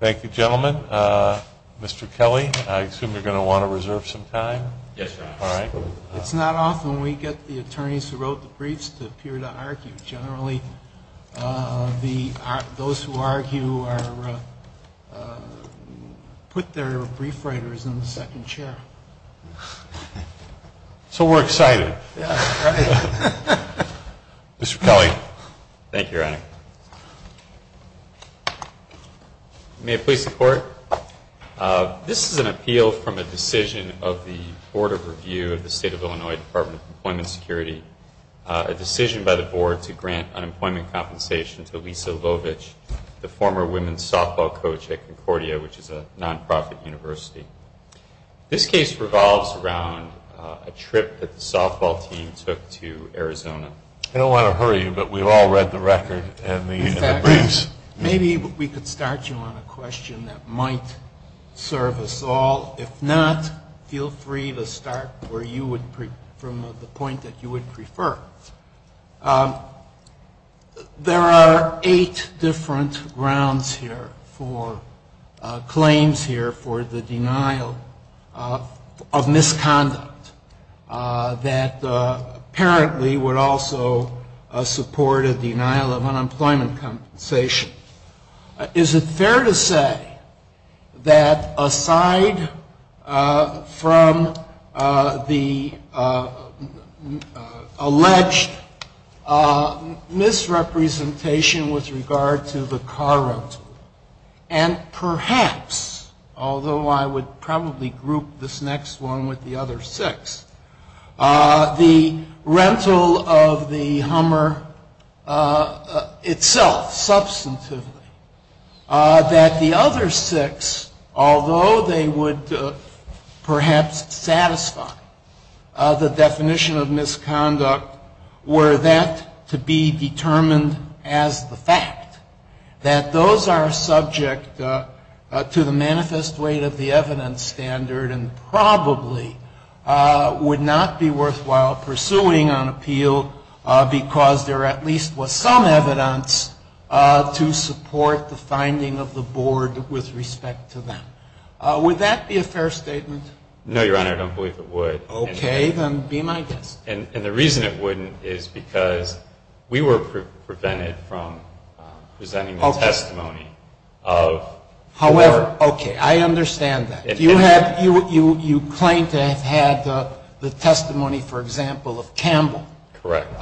Thank you gentlemen. Mr. Kelly, I assume you're going to want to reserve some time. Yes, your honor. All right. It's not often we get the attorneys who wrote the briefs to appear to argue. Generally, those who argue put their brief writers in the second chair. So we're excited. Yeah, right. Mr. Kelly. Thank you, your honor. May it please the Court. This is an appeal from a decision of the Board of Review of the State of Illinois Department of Employment Security, a decision by the Board to grant unemployment compensation to Lisa Lovich, the former women's softball coach at Concordia, which is a nonprofit university. This case revolves around a trip that the softball team took to Arizona. I don't want to hurry you, but we've all read the record and the briefs. Maybe we could start you on a question that might serve us all. If not, feel free to start from the point that you would prefer. There are eight different grounds here for claims here for the denial of misconduct that apparently would also support a denial of unemployment compensation. Is it fair to say that aside from the alleged misrepresentation with regard to the car rental and perhaps, although I would probably group this next one with the other six, the rental of the Hummer itself, substantively, that the other six, although they would perhaps satisfy the definition of misconduct, were that to be determined as the fact that those are subject to the manifest weight of the evidence standard and probably would not be worthwhile pursuing on appeal because there at least was some evidence to support the finding of the board with respect to them. Would that be a fair statement? No, Your Honor, I don't believe it would. Okay, then be my guest. And the reason it wouldn't is because we were prevented from presenting the testimony of whoever. However, okay, I understand that. You claim to have had the testimony, for example, of Campbell. Correct.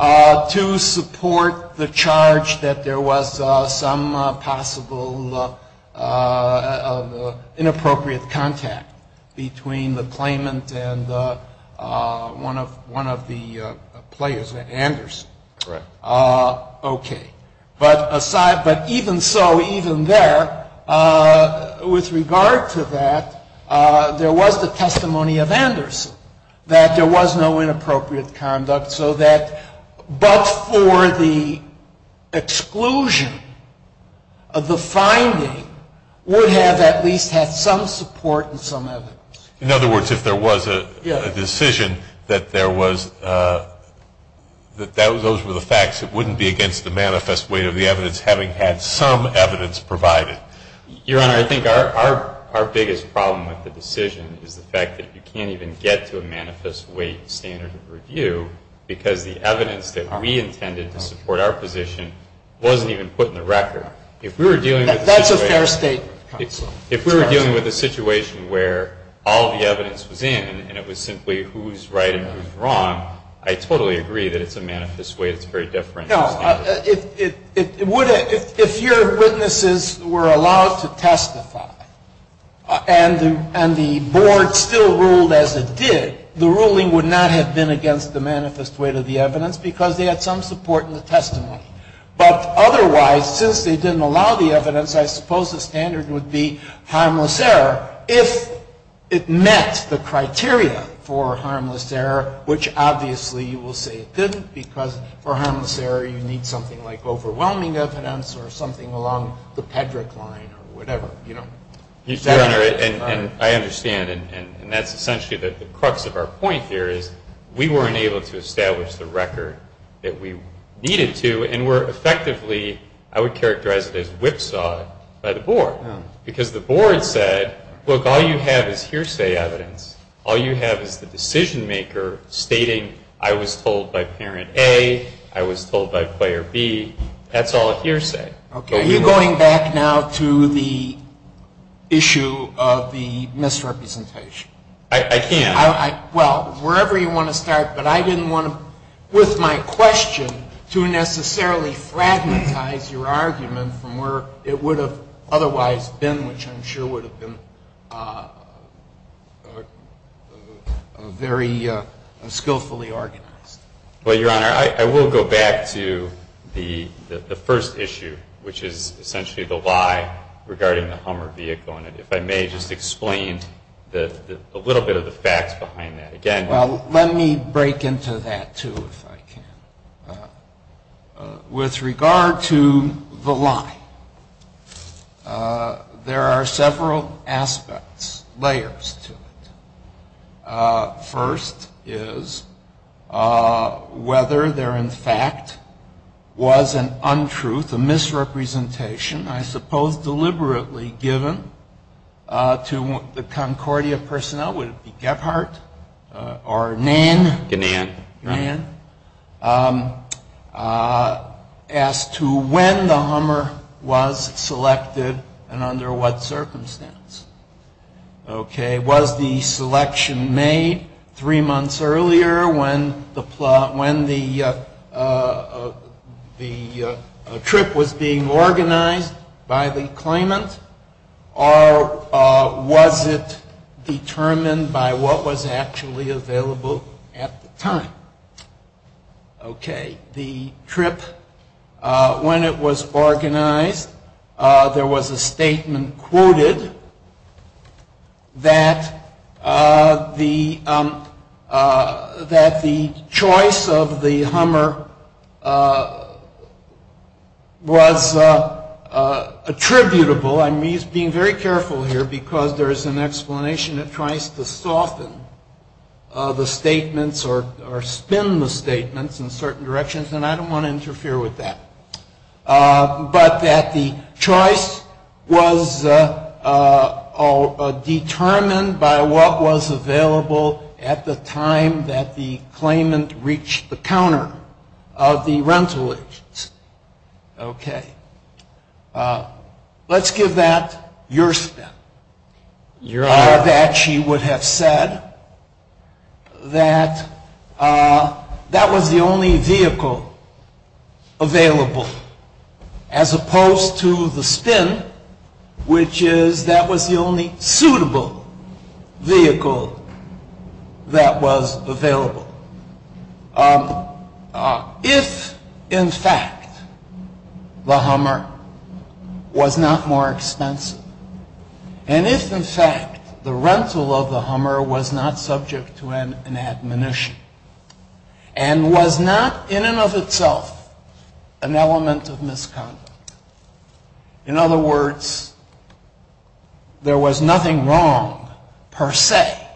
To support the charge that there was some possible inappropriate contact between the claimant and one of the players, Anderson. Correct. Okay. But even so, even there, with regard to that, there was the testimony of Anderson, that there was no inappropriate conduct so that, but for the exclusion of the finding, would have at least had some support and some evidence. In other words, if there was a decision that there was, that those were the facts, it wouldn't be against the manifest weight of the evidence having had some evidence provided. Your Honor, I think our biggest problem with the decision is the fact that you can't even get to a manifest weight standard of review because the evidence that we intended to support our position wasn't even put in the record. If we were dealing with a situation. That's a fair statement. If we were dealing with a situation where all the evidence was in and it was simply who's right and who's wrong, I totally agree that it's a manifest weight. It's a very different standard. No. If your witnesses were allowed to testify and the board still ruled as it did, the ruling would not have been against the manifest weight of the evidence because they had some support in the testimony. But otherwise, since they didn't allow the evidence, I suppose the standard would be harmless error. If it met the criteria for harmless error, which obviously you will say it didn't because for harmless error, you need something like overwhelming evidence or something along the Pedrick line or whatever, you know. Your Honor, I understand. And that's essentially the crux of our point here is we weren't able to establish the record that we needed to. And we're effectively, I would characterize it as whipsawed by the board because the board said, look, all you have is hearsay evidence. All you have is the decision maker stating I was told by parent A, I was told by player B. That's all hearsay. Okay. You're going back now to the issue of the misrepresentation. I can. Well, wherever you want to start, but I didn't want to, with my question, to necessarily fragmentize your argument from where it would have otherwise been, which I'm sure would have been very skillfully organized. Well, Your Honor, I will go back to the first issue, which is essentially the lie regarding the Hummer vehicle. And if I may just explain a little bit of the facts behind that. Well, let me break into that, too, if I can. With regard to the lie, there are several aspects, layers to it. First is whether there in fact was an untruth, a misrepresentation, I suppose deliberately given to the Concordia personnel, would it be Gebhardt or Nann? Gannan. Gannan. As to when the Hummer was selected and under what circumstance. Okay, was the selection made three months earlier when the trip was being organized by the claimant, or was it determined by what was actually available at the time? Okay. The trip, when it was organized, there was a statement quoted that the choice of the Hummer was attributable. I'm being very careful here because there is an explanation that tries to soften the statements or spin the statements in certain directions, and I don't want to interfere with that. But that the choice was determined by what was available at the time that the claimant reached the counter of the rental agents. Okay. Let's give that your spin. That she would have said that that was the only vehicle available, as opposed to the spin, which is that was the only suitable vehicle that was available. If, in fact, the Hummer was not more expensive, and if, in fact, the rental of the Hummer was not subject to an admonition, and was not in and of itself an element of misconduct. In other words, there was nothing wrong, per se,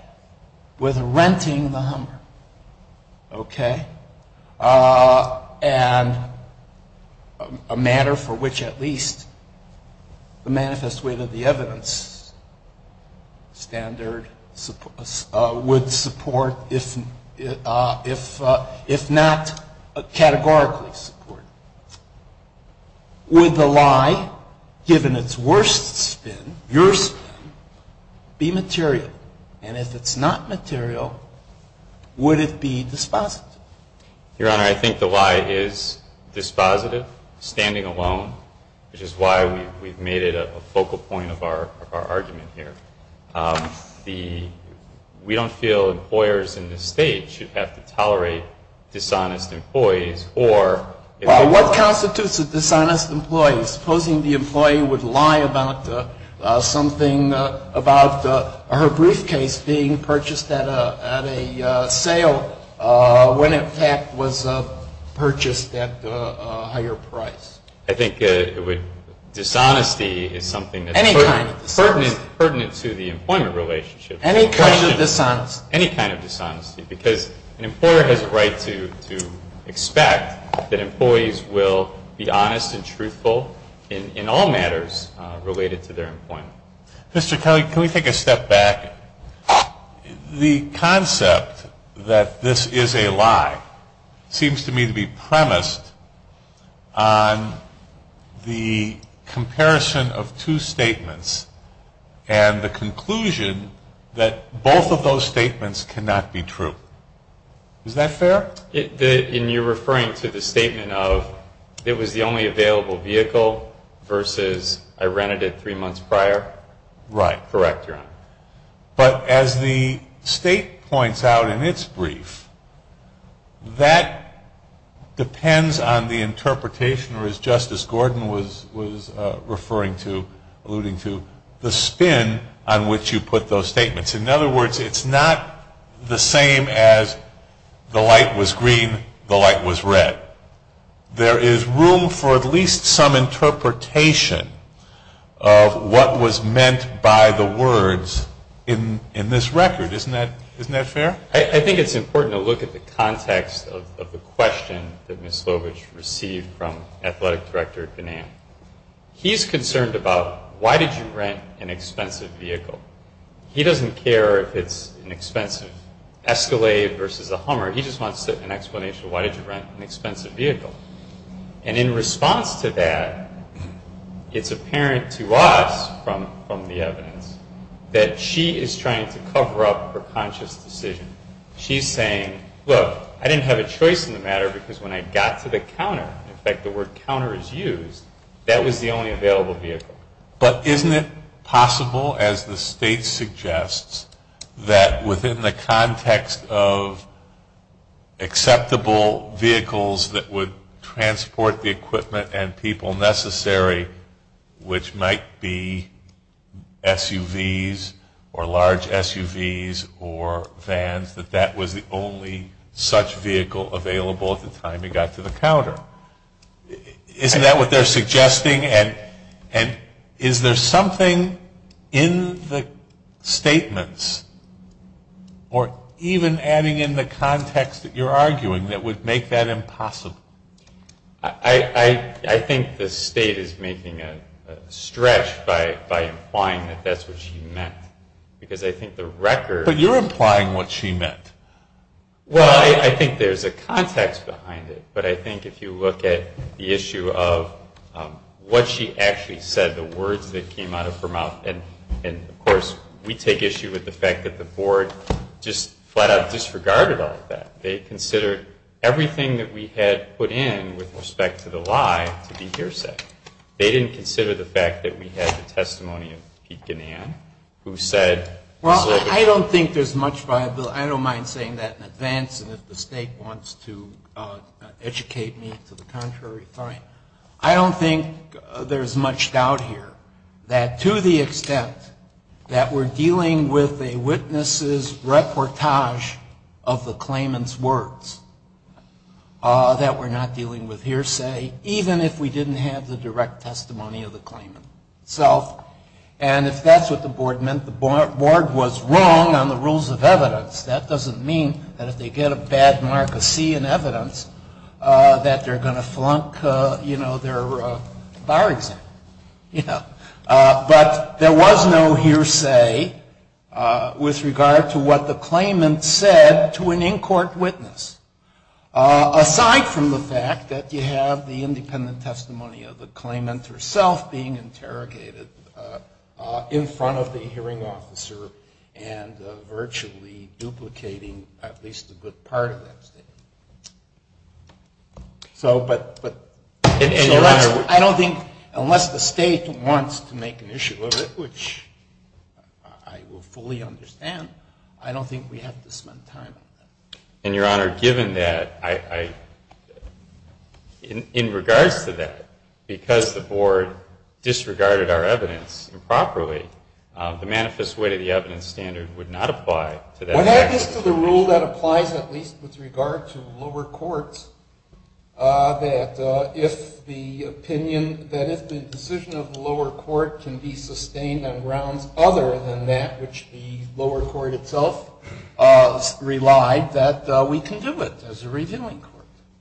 with renting the Hummer, okay? And a matter for which at least the manifest way that the evidence standard would support, if not categorically support. Would the lie, given its worst spin, your spin, be material? And if it's not material, would it be dispositive? Your Honor, I think the lie is dispositive, standing alone, which is why we've made it a focal point of our argument here. We don't feel employers in this State should have to tolerate dishonest employees. Well, what constitutes a dishonest employee? Supposing the employee would lie about something, about her briefcase being purchased at a sale, when, in fact, it was purchased at a higher price. I think dishonesty is something that's pertinent to the employment relationship. Any kind of dishonesty. Any kind of dishonesty. Because an employer has a right to expect that employees will be honest and truthful in all matters related to their employment. Mr. Kelly, can we take a step back? The concept that this is a lie seems to me to be premised on the comparison of two statements and the conclusion that both of those statements cannot be true. Is that fair? You're referring to the statement of it was the only available vehicle versus I rented it three months prior? Right. Correct, Your Honor. But as the State points out in its brief, that depends on the interpretation, or as Justice Gordon was referring to, alluding to, the spin on which you put those statements. In other words, it's not the same as the light was green, the light was red. There is room for at least some interpretation of what was meant by the words in this record. Isn't that fair? I think it's important to look at the context of the question that Ms. Lovitch received from Athletic Director Van Am. He's concerned about why did you rent an expensive vehicle? He doesn't care if it's an expensive Escalade versus a Hummer. He just wants an explanation of why did you rent an expensive vehicle. And in response to that, it's apparent to us from the evidence that she is trying to cover up her conscious decision. She's saying, look, I didn't have a choice in the matter because when I got to the counter, in fact the word counter is used, that was the only available vehicle. But isn't it possible, as the state suggests, that within the context of acceptable vehicles that would transport the equipment and people necessary, which might be SUVs or large SUVs or vans, that that was the only such vehicle available at the time you got to the counter? Isn't that what they're suggesting? And is there something in the statements or even adding in the context that you're arguing that would make that impossible? I think the state is making a stretch by implying that that's what she meant. Because I think the record... But you're implying what she meant. Well, I think there's a context behind it. But I think if you look at the issue of what she actually said, the words that came out of her mouth, and, of course, we take issue with the fact that the board just flat-out disregarded all of that. They considered everything that we had put in with respect to the lie to be hearsay. They didn't consider the fact that we had the testimony of Pete Ginnan, who said... I don't think there's much viability. I don't mind saying that in advance, and if the state wants to educate me to the contrary, fine. I don't think there's much doubt here that to the extent that we're dealing with a witness's reportage of the claimant's words, that we're not dealing with hearsay, even if we didn't have the direct testimony of the claimant itself. And if that's what the board meant, the board was wrong on the rules of evidence. That doesn't mean that if they get a bad mark of C in evidence, that they're going to flunk their bar exam. But there was no hearsay with regard to what the claimant said to an in-court witness, aside from the fact that you have the independent testimony of the claimant herself being interrogated in front of the hearing officer and virtually duplicating at least a good part of that statement. So, but unless the state wants to make an issue of it, which I will fully understand, I don't think we have to spend time on that. And, Your Honor, given that, in regards to that, because the board disregarded our evidence improperly, the manifest way to the evidence standard would not apply to that. What happens to the rule that applies at least with regard to lower courts that if the opinion, that if the decision of the lower court can be sustained on grounds other than that which the lower court itself relied, that we can do it as a reviewing court?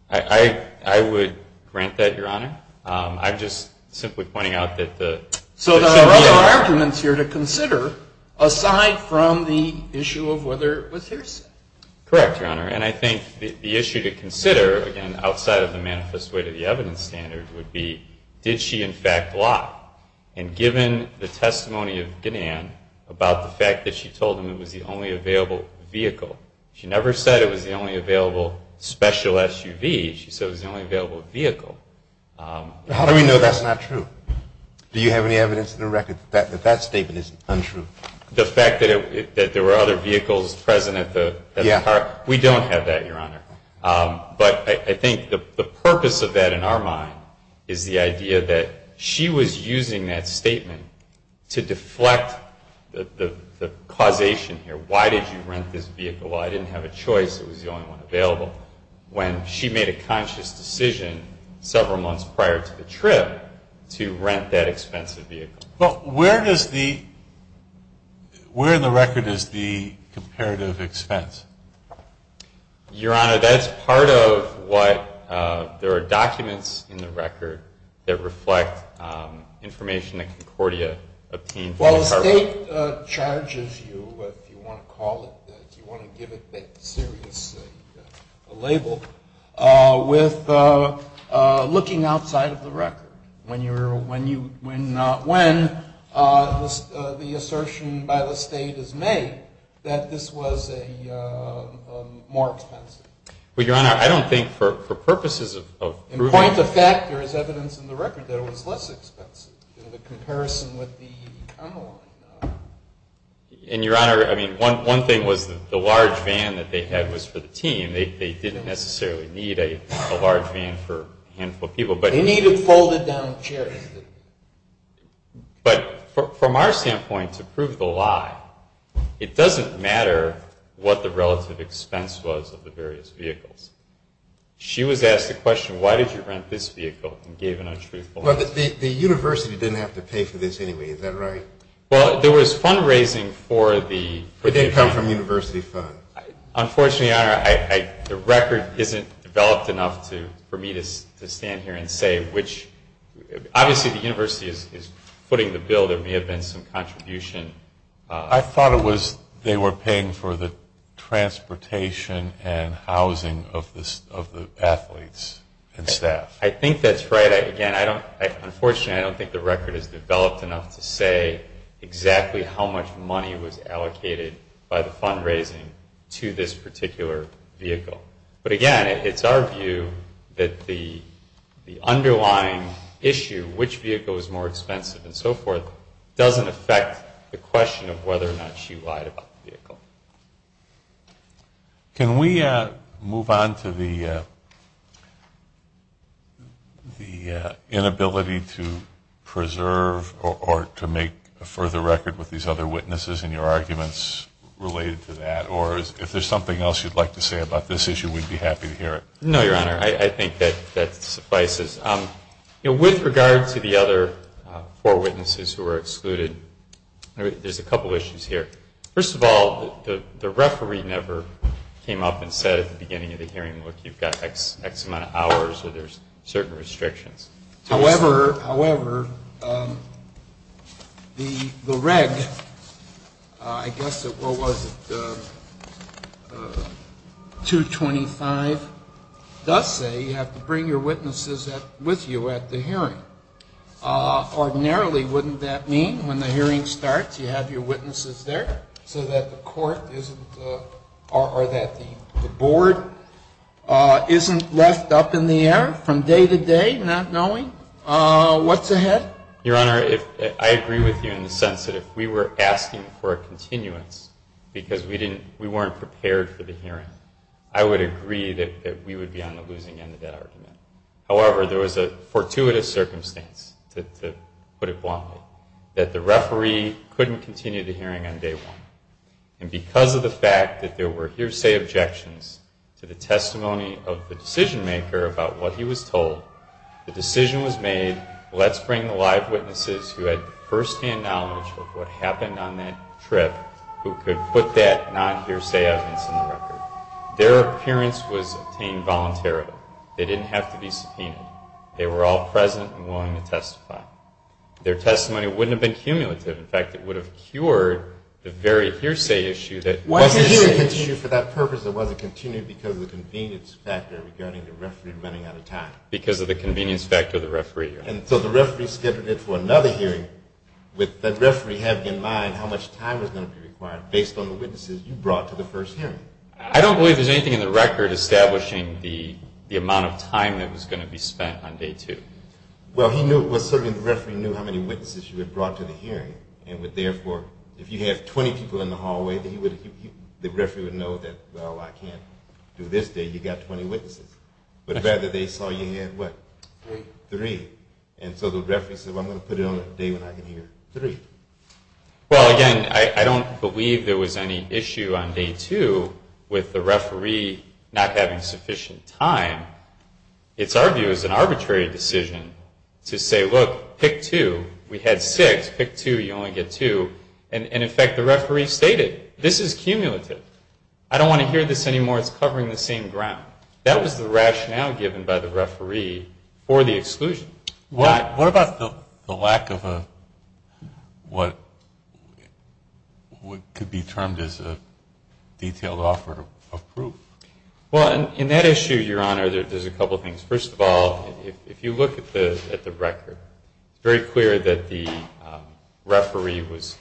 I would grant that, Your Honor. I'm just simply pointing out that the... So there are other arguments here to consider, aside from the issue of whether it was hearsay. Correct, Your Honor. And I think the issue to consider, again, outside of the manifest way to the evidence standard, would be, did she in fact lie? And given the testimony of Ginnan about the fact that she told him it was the only available vehicle, she never said it was the only available special SUV, she said it was the only available vehicle. How do we know that's not true? Do you have any evidence in the record that that statement is untrue? The fact that there were other vehicles present at the car? Yeah. We don't have that, Your Honor. But I think the purpose of that in our mind is the idea that she was using that statement to deflect the causation here. Why did you rent this vehicle? I didn't have a choice. It was the only one available. When she made a conscious decision several months prior to the trip to rent that expensive vehicle. But where in the record is the comparative expense? Your Honor, that's part of what there are documents in the record that reflect information that Concordia obtained. Well, the state charges you, if you want to call it that, if you want to give it that serious label, with looking outside of the record. When the assertion by the state is made that this was more expensive. Well, Your Honor, I don't think for purposes of proving it. In point of fact, there is evidence in the record that it was less expensive in comparison with the other one. And, Your Honor, I mean, one thing was the large van that they had was for the team. They didn't necessarily need a large van for a handful of people. They needed folded down chairs. But from our standpoint, to prove the lie, it doesn't matter what the relative expense was of the various vehicles. She was asked the question, why did you rent this vehicle, and gave an untruthful answer. But the university didn't have to pay for this anyway. Is that right? Well, there was fundraising for the. For the income from university funds. Unfortunately, Your Honor, the record isn't developed enough for me to stand here and say which. Obviously, the university is footing the bill. There may have been some contribution. I thought it was they were paying for the transportation and housing of the athletes and staff. I think that's right. Unfortunately, I don't think the record is developed enough to say exactly how much money was allocated by the fundraising to this particular vehicle. But, again, it's our view that the underlying issue, which vehicle was more expensive and so forth, doesn't affect the question of whether or not she lied about the vehicle. Can we move on to the inability to preserve or to make a further record with these other witnesses and your arguments related to that? Or if there's something else you'd like to say about this issue, we'd be happy to hear it. No, Your Honor. I think that suffices. With regard to the other four witnesses who were excluded, there's a couple issues here. First of all, the referee never came up and said at the beginning of the hearing, look, you've got X amount of hours or there's certain restrictions. However, the reg, I guess what was it, 225, does say you have to bring your witnesses with you at the hearing. Ordinarily, wouldn't that mean when the hearing starts you have your witnesses there so that the court isn't, or that the board isn't left up in the air from day to day not knowing what's ahead? Your Honor, I agree with you in the sense that if we were asking for a continuance because we weren't prepared for the hearing, I would agree that we would be on the losing end of that argument. However, there was a fortuitous circumstance, to put it bluntly, that the referee couldn't continue the hearing on day one. And because of the fact that there were hearsay objections to the testimony of the decision maker about what he was told, the decision was made, let's bring the live witnesses who had firsthand knowledge of what happened on that trip who could put that non-hearsay evidence in the record. Their appearance was obtained voluntarily. They didn't have to be subpoenaed. They were all present and willing to testify. Their testimony wouldn't have been cumulative. In fact, it would have cured the very hearsay issue that... Why did the hearing continue? For that purpose, it wasn't continued because of the convenience factor regarding the referee running out of time. Because of the convenience factor of the referee hearing. And so the referee skipped it for another hearing with the referee having in mind how much time was going to be required based on the witnesses you brought to the first hearing. I don't believe there's anything in the record establishing the amount of time that was going to be spent on day two. Well, certainly the referee knew how many witnesses you had brought to the hearing. And therefore, if you have 20 people in the hallway, the referee would know that, well, I can't do this day. You've got 20 witnesses. But rather, they saw you had what? Three. Three. And so the referee said, well, I'm going to put it on a day when I can hear three. Well, again, I don't believe there was any issue on day two with the referee not having sufficient time. It's our view as an arbitrary decision to say, look, pick two. We had six. Pick two. You only get two. And, in fact, the referee stated, this is cumulative. I don't want to hear this anymore. It's covering the same ground. That was the rationale given by the referee for the exclusion. What about the lack of what could be termed as a detailed offer of proof? Well, in that issue, Your Honor, there's a couple things. First of all, if you look at the record, it's very clear that the referee was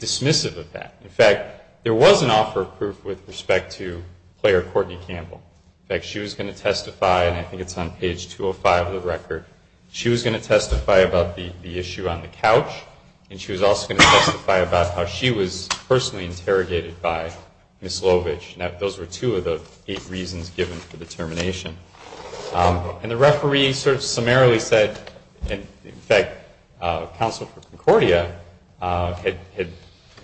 dismissive of that. In fact, there was an offer of proof with respect to player Courtney Campbell. In fact, she was going to testify, and I think it's on page 205 of the record. She was going to testify about the issue on the couch, and she was also going to testify about how she was personally interrogated by Ms. Lovich. Now, those were two of the eight reasons given for the termination. And the referee sort of summarily said, in fact, counsel for Concordia had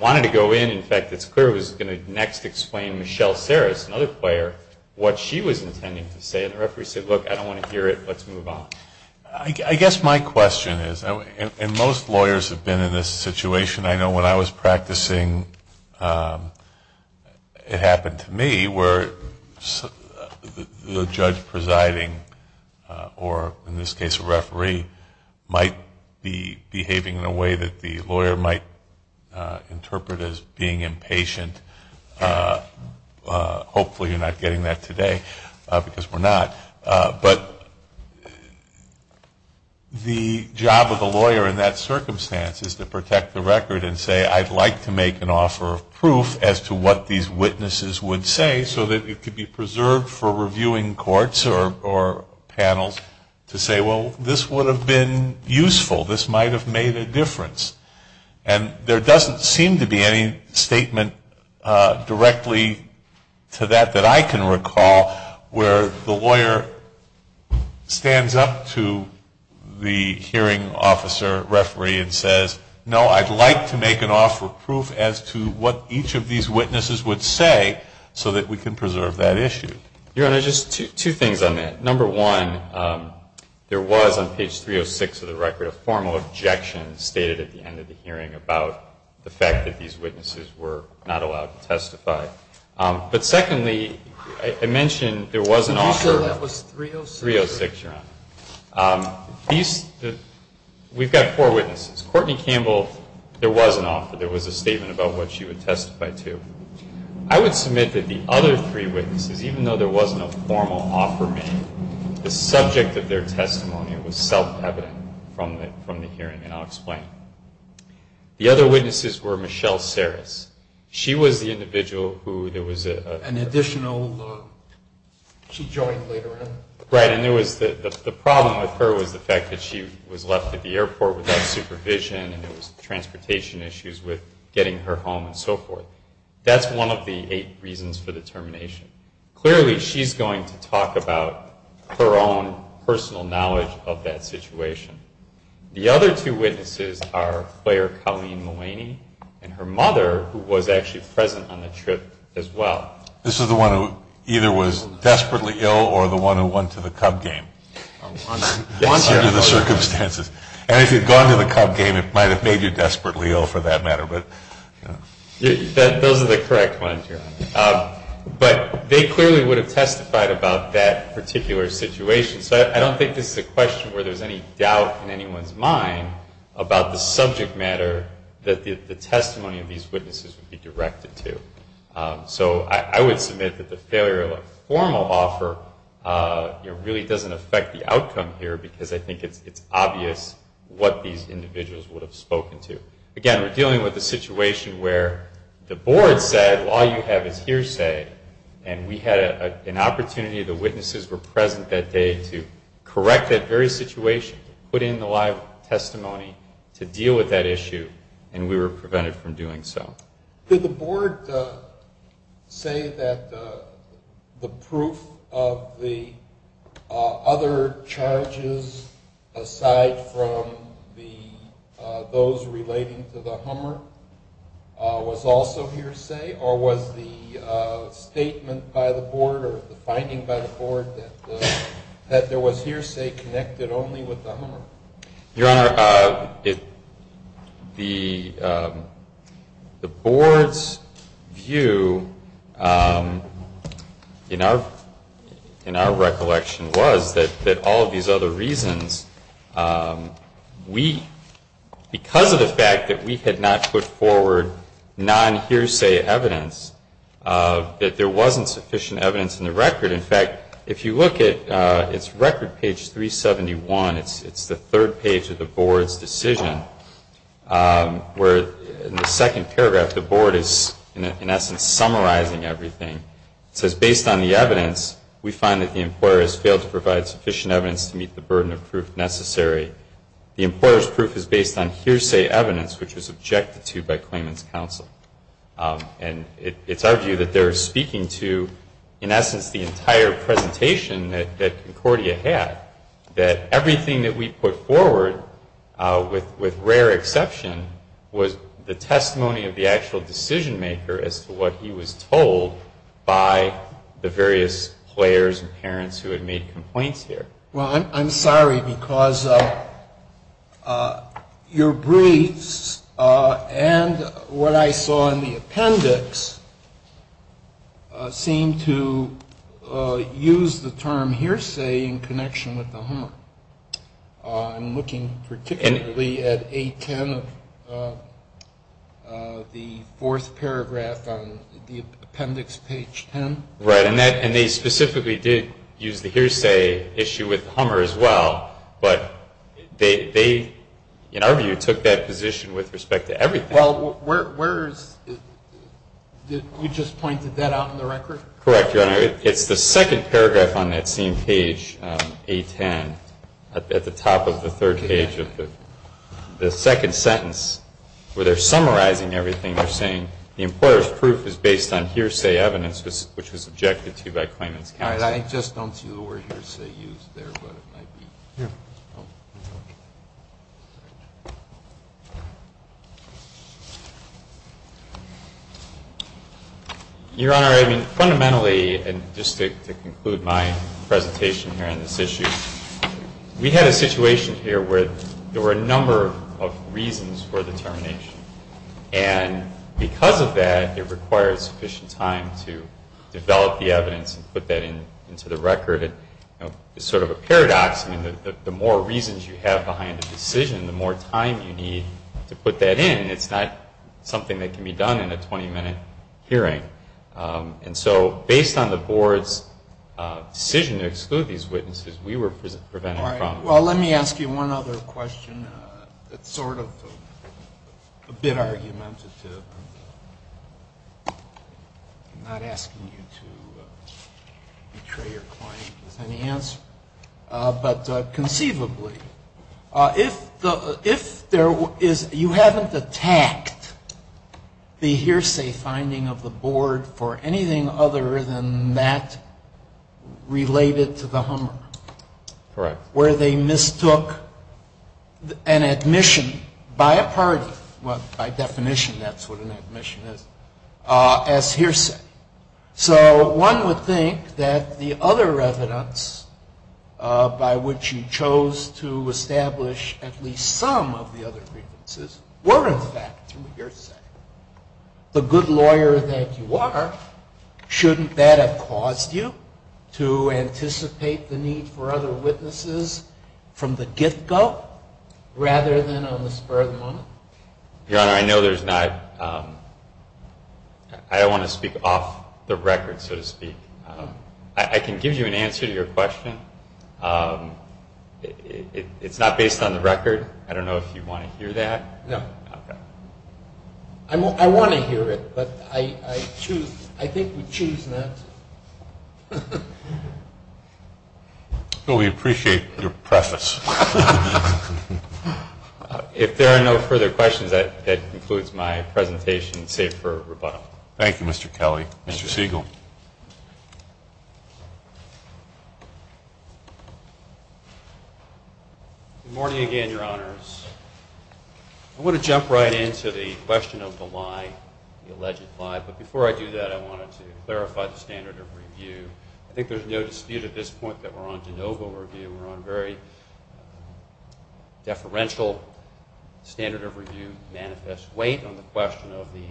wanted to go in. In fact, it's clear it was going to next explain Michelle Sarris, another player, what she was intending to say. And the referee said, look, I don't want to hear it. Let's move on. I guess my question is, and most lawyers have been in this situation. I know when I was practicing, it happened to me where the judge presiding or, in this case, a referee might be behaving in a way that the lawyer might interpret as being impatient. Hopefully you're not getting that today, because we're not. But the job of the lawyer in that circumstance is to protect the record and say, I'd like to make an offer of proof as to what these witnesses would say so that it could be preserved for reviewing courts or panels to say, well, this would have been useful. This might have made a difference. And there doesn't seem to be any statement directly to that that I can recall where the lawyer stands up to the hearing officer, referee, and says, no, I'd like to make an offer of proof as to what each of these witnesses would say so that we can preserve that issue. Your Honor, just two things on that. Number one, there was on page 306 of the record a formal objection stated at the end of the hearing about the fact that these witnesses were not allowed to testify. But secondly, I mentioned there was an offer. Are you sure that was 306? 306, Your Honor. We've got four witnesses. Courtney Campbell, there was an offer. There was a statement about what she would testify to. I would submit that the other three witnesses, even though there wasn't a formal offer made, the subject of their testimony was self-evident from the hearing, and I'll explain. The other witnesses were Michelle Sarris. She was the individual who there was a... An additional, she joined later in. Right, and there was the problem with her was the fact that she was left at the airport without supervision and there was transportation issues with getting her home and so forth. That's one of the eight reasons for the termination. Clearly, she's going to talk about her own personal knowledge of that situation. The other two witnesses are player Colleen Mulaney and her mother, who was actually present on the trip as well. This is the one who either was desperately ill or the one who won to the Cub game, won under the circumstances. And if you'd gone to the Cub game, it might have made you desperately ill for that matter. Those are the correct ones. But they clearly would have testified about that particular situation. So I don't think this is a question where there's any doubt in anyone's mind about the subject matter that the testimony of these witnesses would be directed to. So I would submit that the failure of a formal offer really doesn't affect the outcome here because I think it's obvious what these individuals would have spoken to. Again, we're dealing with a situation where the board said, well, all you have is hearsay, and we had an opportunity. The witnesses were present that day to correct that very situation, put in the live testimony to deal with that issue, and we were prevented from doing so. Did the board say that the proof of the other charges aside from those relating to the Hummer was also hearsay, or was the statement by the board or the finding by the board that there was hearsay connected only with the Hummer? Your Honor, the board's view in our recollection was that all of these other reasons, because of the fact that we had not put forward non-hearsay evidence, that there wasn't sufficient evidence in the record. In fact, if you look at its record, page 371, it's the third page of the board's decision, where in the second paragraph the board is in essence summarizing everything. It says, based on the evidence, we find that the employer has failed to provide sufficient evidence to meet the burden of proof necessary. The employer's proof is based on hearsay evidence, which was objected to by claimant's counsel. And it's our view that they're speaking to, in essence, the entire presentation that Concordia had, that everything that we put forward, with rare exception, was the testimony of the actual decision maker as to what he was told by the various players and parents who had made complaints here. Well, I'm sorry, because your briefs and what I saw in the appendix seem to use the term hearsay in connection with the Hummer. I'm looking particularly at 810 of the fourth paragraph on the appendix, page 10. Right. And they specifically did use the hearsay issue with Hummer as well, but they, in our view, took that position with respect to everything. Well, where is it? You just pointed that out in the record? Correct, Your Honor. It's the second paragraph on that same page, 810, at the top of the third page of the second sentence, where they're summarizing everything. They're saying the employer's proof is based on hearsay evidence, which was objected to by claimant's counsel. I just don't see the word hearsay used there, but it might be. Here. Your Honor, I mean, fundamentally, and just to conclude my presentation here on this issue, we had a situation here where there were a number of reasons for the termination. And because of that, it required sufficient time to develop the evidence and put that into the record. It's sort of a paradox. I mean, the more reasons you have behind a decision, the more time you need to put that in. It's not something that can be done in a 20-minute hearing. And so based on the Board's decision to exclude these witnesses, we were prevented from. All right. Well, let me ask you one other question. It's sort of a bit argumentative. I'm not asking you to betray your client with any answer. But conceivably, if you haven't attacked the hearsay finding of the Board for anything other than that related to the Hummer. Correct. Where they mistook an admission by a party, well, by definition, that's what an admission is, as hearsay. So one would think that the other evidence by which you chose to establish at least some of the other grievances were, in fact, hearsay. The good lawyer that you are, shouldn't that have caused you to anticipate the need for other witnesses from the get-go rather than on the spur of the moment? Your Honor, I know there's not – I don't want to speak off the record, so to speak. I can give you an answer to your question. It's not based on the record. I don't know if you want to hear that. No. I want to hear it, but I think we choose not to. Well, we appreciate your preface. If there are no further questions, that concludes my presentation, save for rebuttal. Thank you, Mr. Kelly. Mr. Siegel. Good morning again, Your Honors. I want to jump right into the question of the lie, the alleged lie, but before I do that, I wanted to clarify the standard of review. I think there's no dispute at this point that we're on de novo review. We're on very deferential standard of review manifest weight on the question of the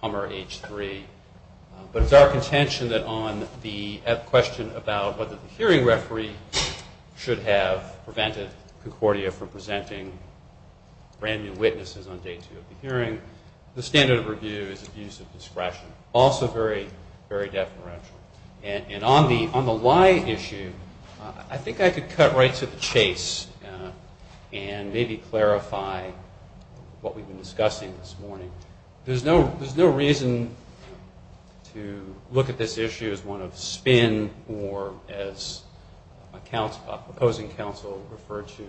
Hummer H-3. But it's our contention that on the question about whether the hearing referee should have prevented Concordia from presenting brand-new witnesses on day two of the hearing, the standard of review is abuse of discretion, also very, very deferential. And on the lie issue, I think I could cut right to the chase and maybe clarify what we've been discussing this morning. There's no reason to look at this issue as one of spin or as opposing counsel referred to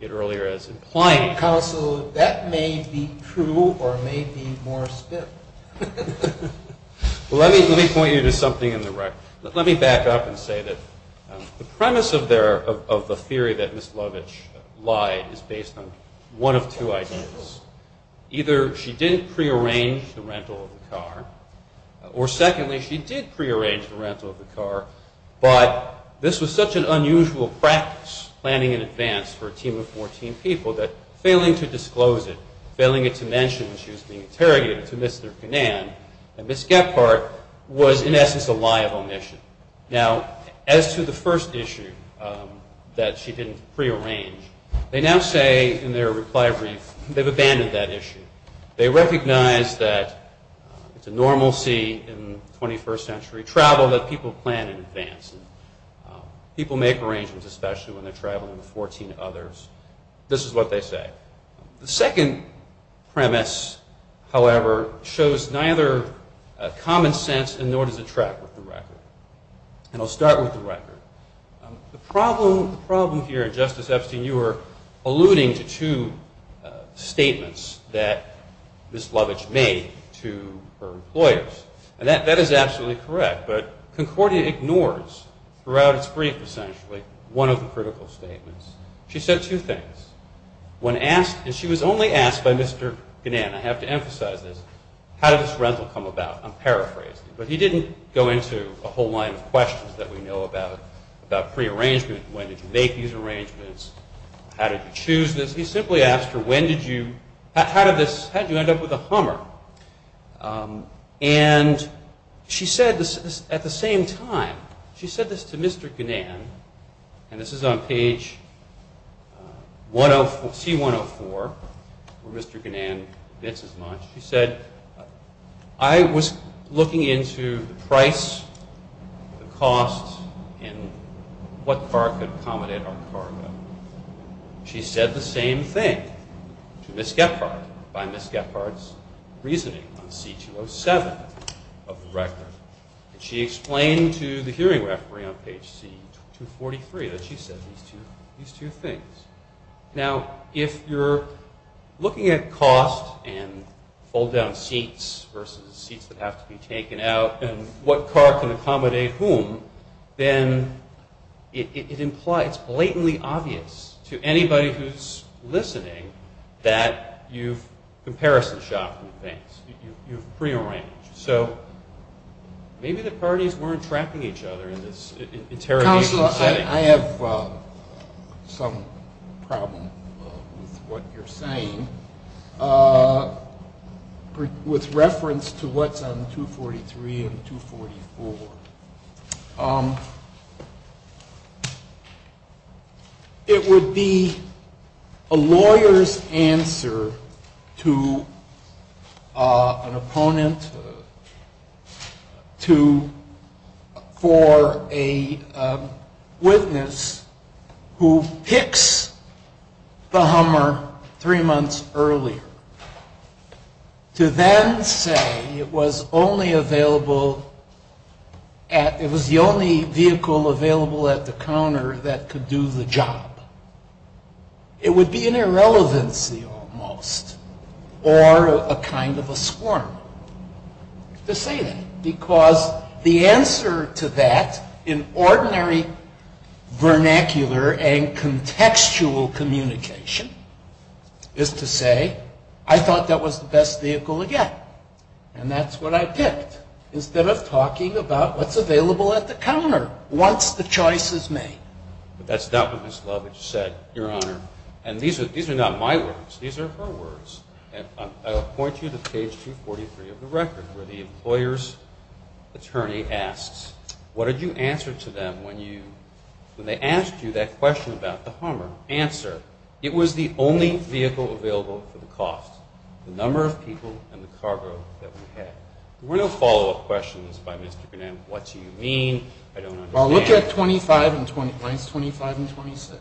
it earlier as implying counsel. That may be true or may be more spit. Let me point you to something in the record. Let me back up and say that the premise of the theory that Ms. Lovitch lied is based on one of two ideas. Either she didn't prearrange the rental of the car, or secondly, she did prearrange the rental of the car, but this was such an unusual practice planning in advance for a team of 14 people that failing to disclose it, failing it to mention when she was being interrogated to Mr. Canan and Ms. Gephardt was, in essence, a lie of omission. Now, as to the first issue that she didn't prearrange, they now say in their reply brief they've abandoned that issue. They recognize that it's a normalcy in 21st century travel that people plan in advance. People make arrangements especially when they're traveling with 14 others. This is what they say. The second premise, however, shows neither common sense nor does it track with the record. And I'll start with the record. The problem here, Justice Epstein, you were alluding to two statements that Ms. Lovitch made to her employers. And that is absolutely correct, but Concordia ignores throughout its brief essentially one of the critical statements. She said two things. When asked, and she was only asked by Mr. Canan. I have to emphasize this. How did this rental come about? I'm paraphrasing. But he didn't go into a whole line of questions that we know about prearrangement. When did you make these arrangements? How did you choose this? He simply asked her, how did you end up with a Hummer? And she said this at the same time. She said this to Mr. Canan. And this is on page C-104 where Mr. Canan fits as much. She said, I was looking into the price, the cost, and what car could accommodate our cargo. She said the same thing to Ms. Gephardt by Ms. Gephardt's reasoning on C-207 of the record. And she explained to the hearing referee on page C-243 that she said these two things. Now, if you're looking at cost and fold-down seats versus seats that have to be taken out and what car can accommodate whom, then it's blatantly obvious to anybody who's listening that you've comparison shopped the things. You've prearranged. So maybe the parties weren't trapping each other in this interrogation setting. I have some problem with what you're saying. With reference to what's on 243 and 244, it would be a lawyer's answer to an opponent for a witness who picks the hummer three months earlier. To then say it was the only vehicle available at the counter that could do the job. It would be an irrelevancy almost or a kind of a squirm to say that. Because the answer to that in ordinary vernacular and contextual communication is to say I thought that was the best vehicle to get. And that's what I picked instead of talking about what's available at the counter once the choice is made. But that's not what Ms. Lovitch said, Your Honor. And these are not my words. These are her words. I'll point you to page 243 of the record where the employer's attorney asks, what did you answer to them when they asked you that question about the hummer? Answer, it was the only vehicle available for the cost, the number of people and the cargo that we had. There were no follow-up questions by Mr. Burnett. What do you mean? I don't understand. Well, look at lines 25 and 26.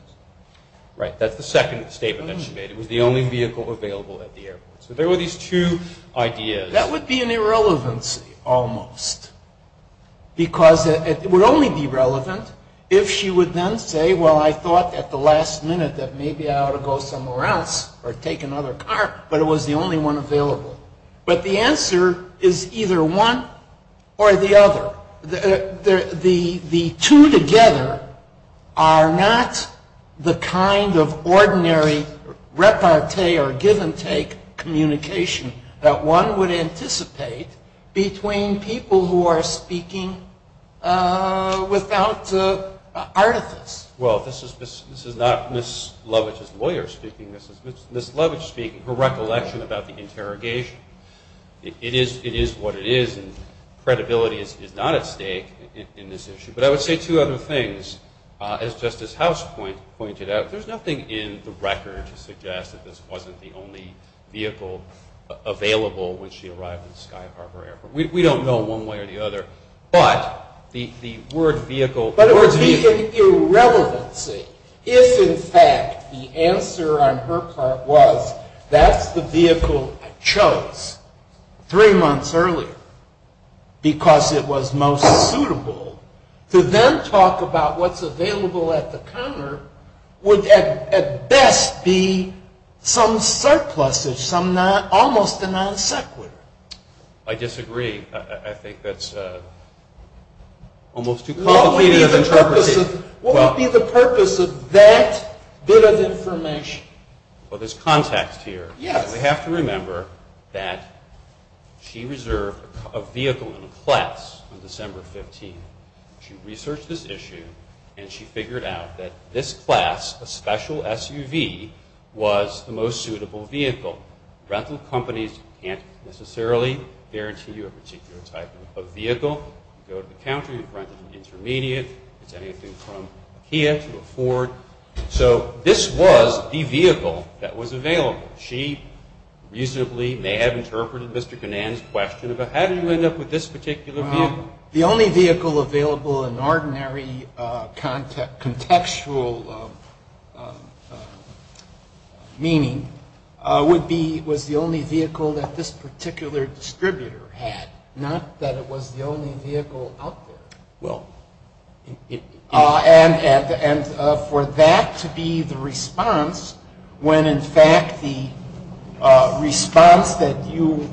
Right. That's the second statement that she made. It was the only vehicle available at the airport. So there were these two ideas. That would be an irrelevancy almost because it would only be relevant if she would then say, well, I thought at the last minute that maybe I ought to go somewhere else or take another car. But it was the only one available. But the answer is either one or the other. The two together are not the kind of ordinary repartee or give-and-take communication that one would anticipate between people who are speaking without artifice. Well, this is not Ms. Lovitch's lawyer speaking. This is Ms. Lovitch speaking, her recollection about the interrogation. It is what it is, and credibility is not at stake in this issue. But I would say two other things. As Justice House pointed out, there's nothing in the record to suggest that this wasn't the only vehicle available when she arrived at the Sky Harbor Airport. We don't know one way or the other. But the word vehicle, words vehicle. It would be an irrelevancy if, in fact, the answer on her part was, that's the vehicle I chose three months earlier because it was most suitable. To then talk about what's available at the counter would at best be some surplus, almost a non sequitur. I disagree. I think that's almost too complicated of an interpretation. What would be the purpose of that bit of information? Well, there's context here. We have to remember that she reserved a vehicle in a class on December 15th. She researched this issue, and she figured out that this class, a special SUV, was the most suitable vehicle. Rental companies can't necessarily guarantee you a particular type of vehicle. You go to the counter. You've rented an intermediate. It's anything from Kia to a Ford. So this was the vehicle that was available. She reasonably may have interpreted Mr. Ganan's question about how did you end up with this particular vehicle. The only vehicle available in ordinary contextual meaning was the only vehicle that this particular distributor had, not that it was the only vehicle out there. And for that to be the response when, in fact, the response that you,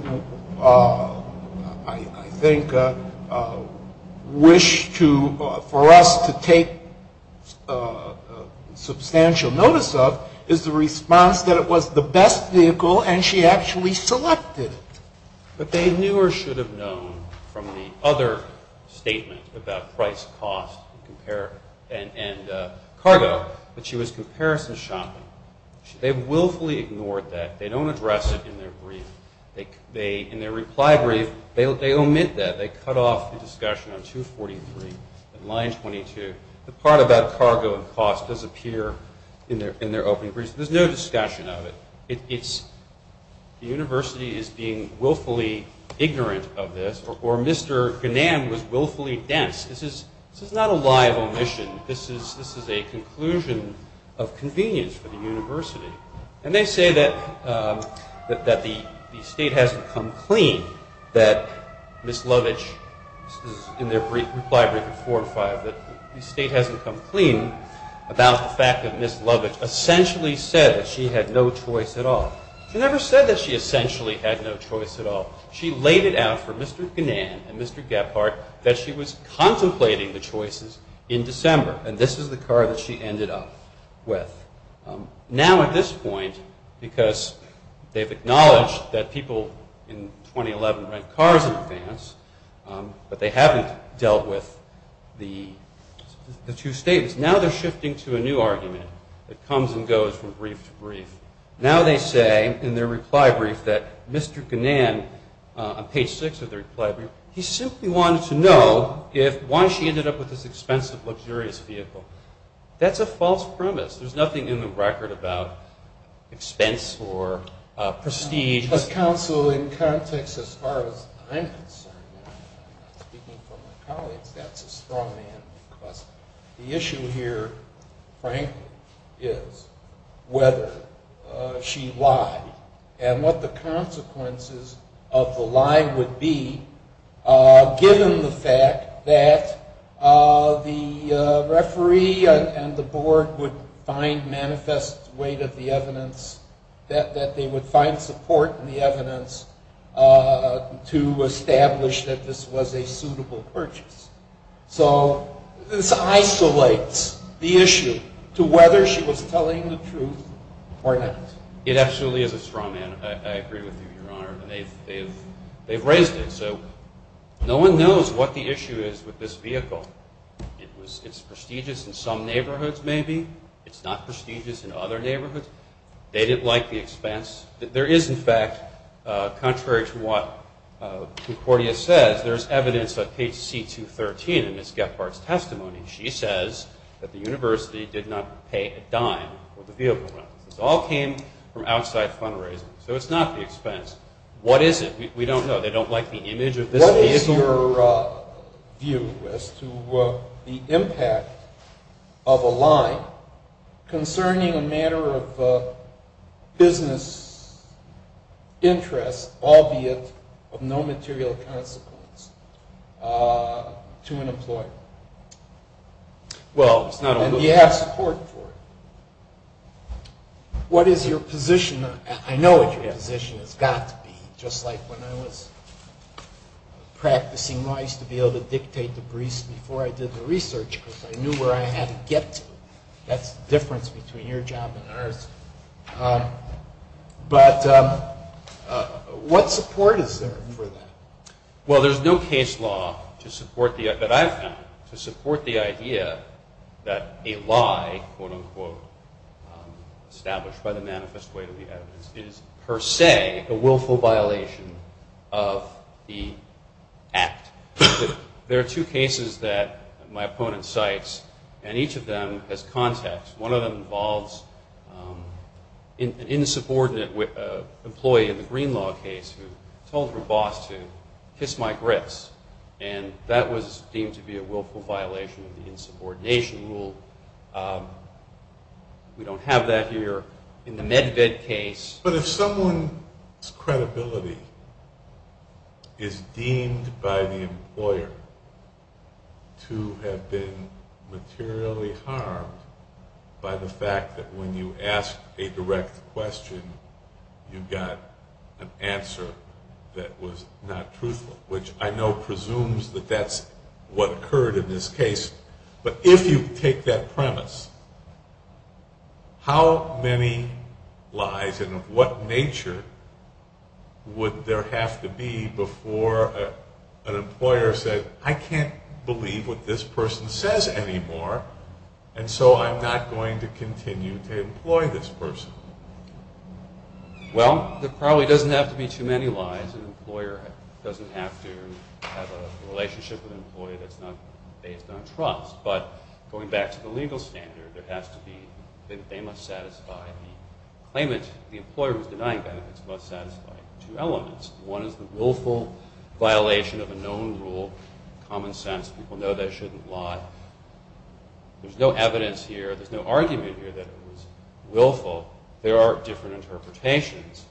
I think, wish for us to take substantial notice of, is the response that it was the best vehicle and she actually selected it. But they knew or should have known from the other statement about price, cost, and cargo that she was comparison shopping. They willfully ignored that. They don't address it in their brief. In their reply brief, they omit that. They cut off the discussion on 243 and line 22. The part about cargo and cost does appear in their opening briefs. There's no discussion of it. The university is being willfully ignorant of this or Mr. Ganan was willfully dense. This is not a lie of omission. This is a conclusion of convenience for the university. And they say that the state hasn't come clean, that Ms. Lovitch, in their reply brief of four or five, that the state hasn't come clean about the fact that Ms. Lovitch essentially said that she had no choice at all. She never said that she essentially had no choice at all. She laid it out for Mr. Ganan and Mr. Gephardt that she was contemplating the choices in December. And this is the car that she ended up with. Now at this point, because they've acknowledged that people in 2011 rent cars in advance, but they haven't dealt with the two statements, now they're shifting to a new argument that comes and goes from brief to brief. Now they say in their reply brief that Mr. Ganan, on page six of the reply brief, he simply wanted to know why she ended up with this expensive, luxurious vehicle. That's a false premise. There's nothing in the record about expense or prestige. As counsel, in context, as far as I'm concerned, speaking for my colleagues, that's a straw man because the issue here, frankly, is whether she lied and what the consequences of the lie would be, given the fact that the referee and the board would find manifest weight of the evidence, that they would find support in the evidence to establish that this was a suitable purchase. So this isolates the issue to whether she was telling the truth or not. It absolutely is a straw man. I agree with you, Your Honor. They've raised it. So no one knows what the issue is with this vehicle. It's prestigious in some neighborhoods, maybe. It's not prestigious in other neighborhoods. They didn't like the expense. There is, in fact, contrary to what Concordia says, there's evidence on page C213 in Ms. Gephardt's testimony. She says that the university did not pay a dime for the vehicle rental. It all came from outside fundraising. So it's not the expense. What is it? We don't know. They don't like the image of this vehicle. What is your view as to the impact of a lie concerning a matter of business interest, albeit of no material consequence, to an employer? Well, it's not a lie. And do you have support for it? What is your position? I know what your position has got to be, just like when I was practicing law, I used to be able to dictate the briefs before I did the research because I knew where I had to get to. That's the difference between your job and ours. But what support is there for that? Well, there's no case law that I've found to support the idea that a lie, quote-unquote, established by the manifest way to the evidence, is per se a willful violation of the act. There are two cases that my opponent cites, and each of them has context. One of them involves an insubordinate employee in the Green Law case who told her boss to kiss my grits, and that was deemed to be a willful violation of the insubordination rule. We don't have that here. In the Medved case. But if someone's credibility is deemed by the employer to have been materially harmed by the fact that when you ask a direct question, you got an answer that was not truthful, which I know presumes that that's what occurred in this case, but if you take that premise, how many lies, and of what nature, would there have to be before an employer said, I can't believe what this person says anymore, and so I'm not going to continue to employ this person? Well, there probably doesn't have to be too many lies. Sometimes an employer doesn't have to have a relationship with an employee that's based on trust, but going back to the legal standard, there has to be, they must satisfy the claimant, the employer who's denying benefits must satisfy two elements. One is the willful violation of a known rule, common sense, people know they shouldn't lie. There's no evidence here, there's no argument here that it was willful. There are different interpretations.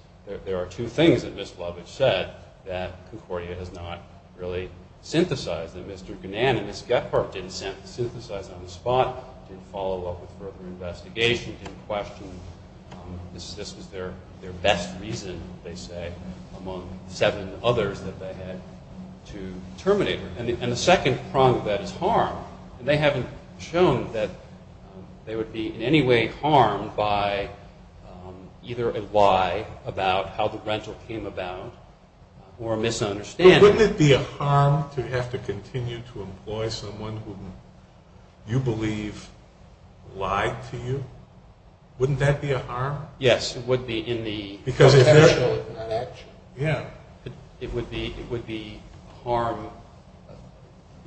There are two things that Ms. Blavich said that Concordia has not really synthesized, that Mr. Gnan and Ms. Gephardt didn't synthesize on the spot, didn't follow up with further investigation, didn't question. This was their best reason, they say, among seven others that they had to terminate her. And the second prong of that is harm. And they haven't shown that they would be in any way harmed by either a lie about how the rental came about or a misunderstanding. But wouldn't it be a harm to have to continue to employ someone who you believe lied to you? Wouldn't that be a harm? Yes, it would be in the potential of that action. It would be harm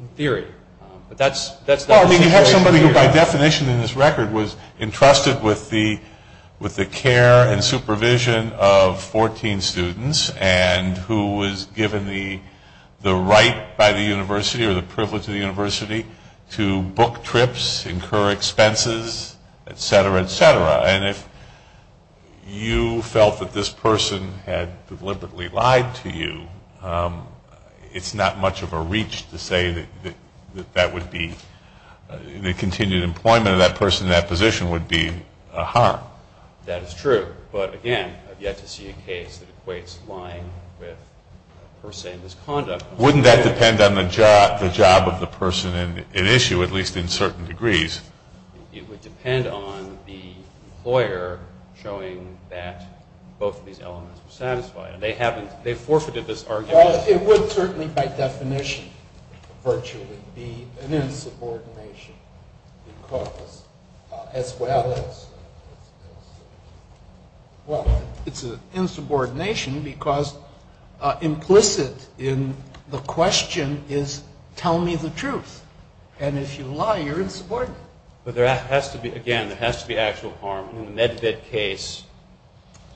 in theory. But that's the situation. Well, I mean, you have somebody who by definition in this record was entrusted with the care and supervision of 14 students and who was given the right by the university or the privilege of the university to book trips, incur expenses, et cetera, et cetera. And if you felt that this person had deliberately lied to you, it's not much of a reach to say that that would be the continued employment of that person in that position would be a harm. That is true. But, again, I've yet to see a case that equates lying with per se misconduct. Wouldn't that depend on the job of the person in issue, at least in certain degrees? It would depend on the employer showing that both of these elements are satisfied. And they haven't. They forfeited this argument. Well, it would certainly by definition virtually be an insubordination because as well as. Well, it's an insubordination because implicit in the question is tell me the truth. And if you lie, you're insubordinate. But there has to be, again, there has to be actual harm. In the MedVet case,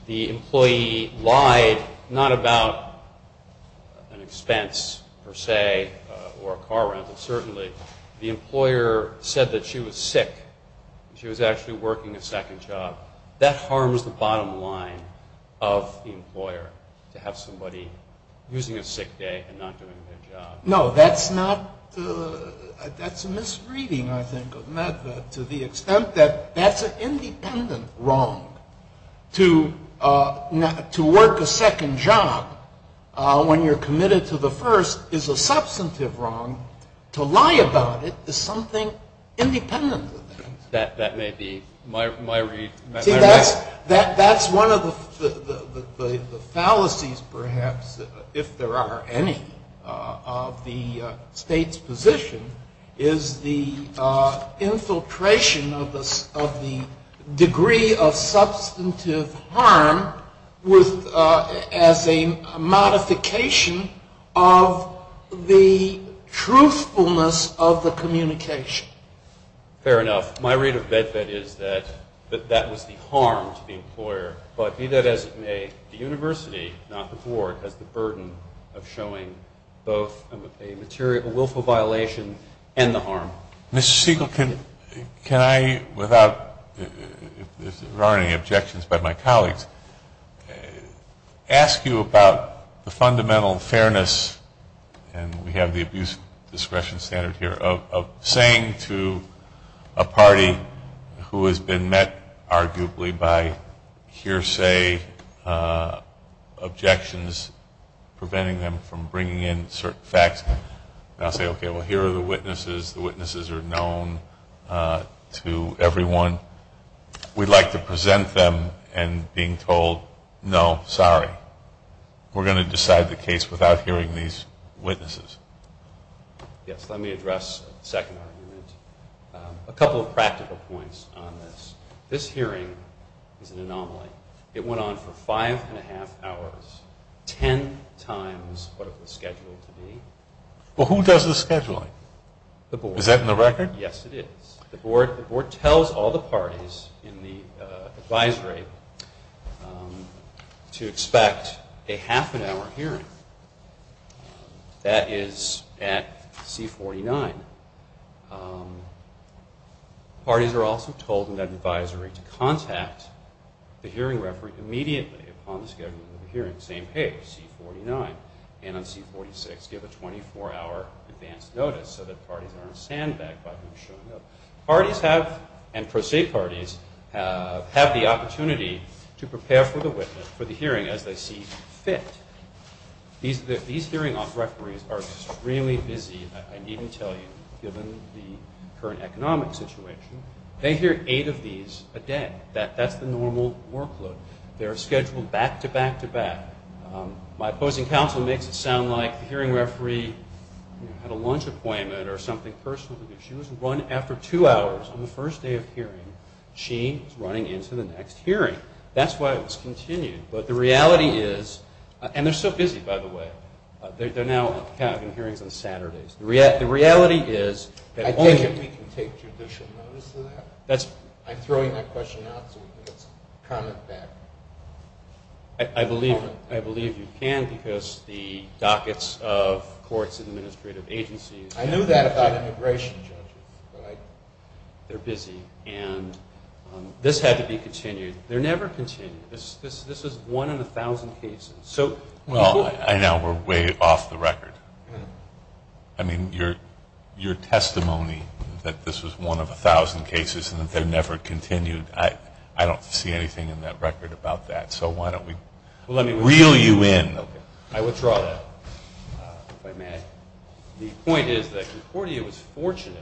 the employee lied not about an expense per se or a car rental, certainly. The employer said that she was sick. She was actually working a second job. That harms the bottom line of the employer to have somebody using a sick day and not doing their job. No, that's not. That's a misreading, I think, of MedVet to the extent that that's an independent wrong. To work a second job when you're committed to the first is a substantive wrong. To lie about it is something independent of it. That may be my read. That's one of the fallacies, perhaps, if there are any, of the state's position, is the infiltration of the degree of substantive harm as a modification of the truthfulness of the communication. Fair enough. My read of MedVet is that that was the harm to the employer. But be that as it may, the university, not the board, has the burden of showing both a willful violation and the harm. Mr. Siegel, can I, without, if there are any objections by my colleagues, ask you about the fundamental fairness, and we have the abuse discretion standard here, of saying to a party who has been met, arguably, by hearsay, objections preventing them from bringing in certain facts, and I'll say, okay, well, here are the witnesses. The witnesses are known to everyone. We'd like to present them and being told, no, sorry. We're going to decide the case without hearing these witnesses. Yes, let me address the second argument. A couple of practical points on this. This hearing is an anomaly. It went on for five and a half hours, ten times what it was scheduled to be. Well, who does the scheduling? The board. Is that in the record? Yes, it is. The board tells all the parties in the advisory to expect a half an hour hearing. That is at C49. Parties are also told in that advisory to contact the hearing referee immediately upon the schedule of the hearing, saying, hey, C49, and on C46, give a 24-hour advance notice so that parties aren't sandbagged by him showing up. Parties have, and pro se parties, have the opportunity to prepare for the witness, for the hearing as they see fit. These hearing referees are extremely busy, I needn't tell you, given the current economic situation. They hear eight of these a day. That's the normal workload. They're scheduled back to back to back. My opposing counsel makes it sound like the hearing referee had a lunch appointment or something personal. She was run after two hours on the first day of hearing. She is running into the next hearing. That's why it was continued. But the reality is, and they're so busy, by the way. They're now having hearings on Saturdays. The reality is that only if we can take judicial notice of that. I'm throwing that question out so we can comment back. I believe you can because the dockets of courts and administrative agencies. I knew that about immigration judges. They're busy. And this had to be continued. They're never continued. This is one in 1,000 cases. Well, I know we're way off the record. I mean, your testimony that this was one of 1,000 cases and that they're never continued, I don't see anything in that record about that. So why don't we reel you in. I withdraw that, if I may. The point is that Concordia was fortunate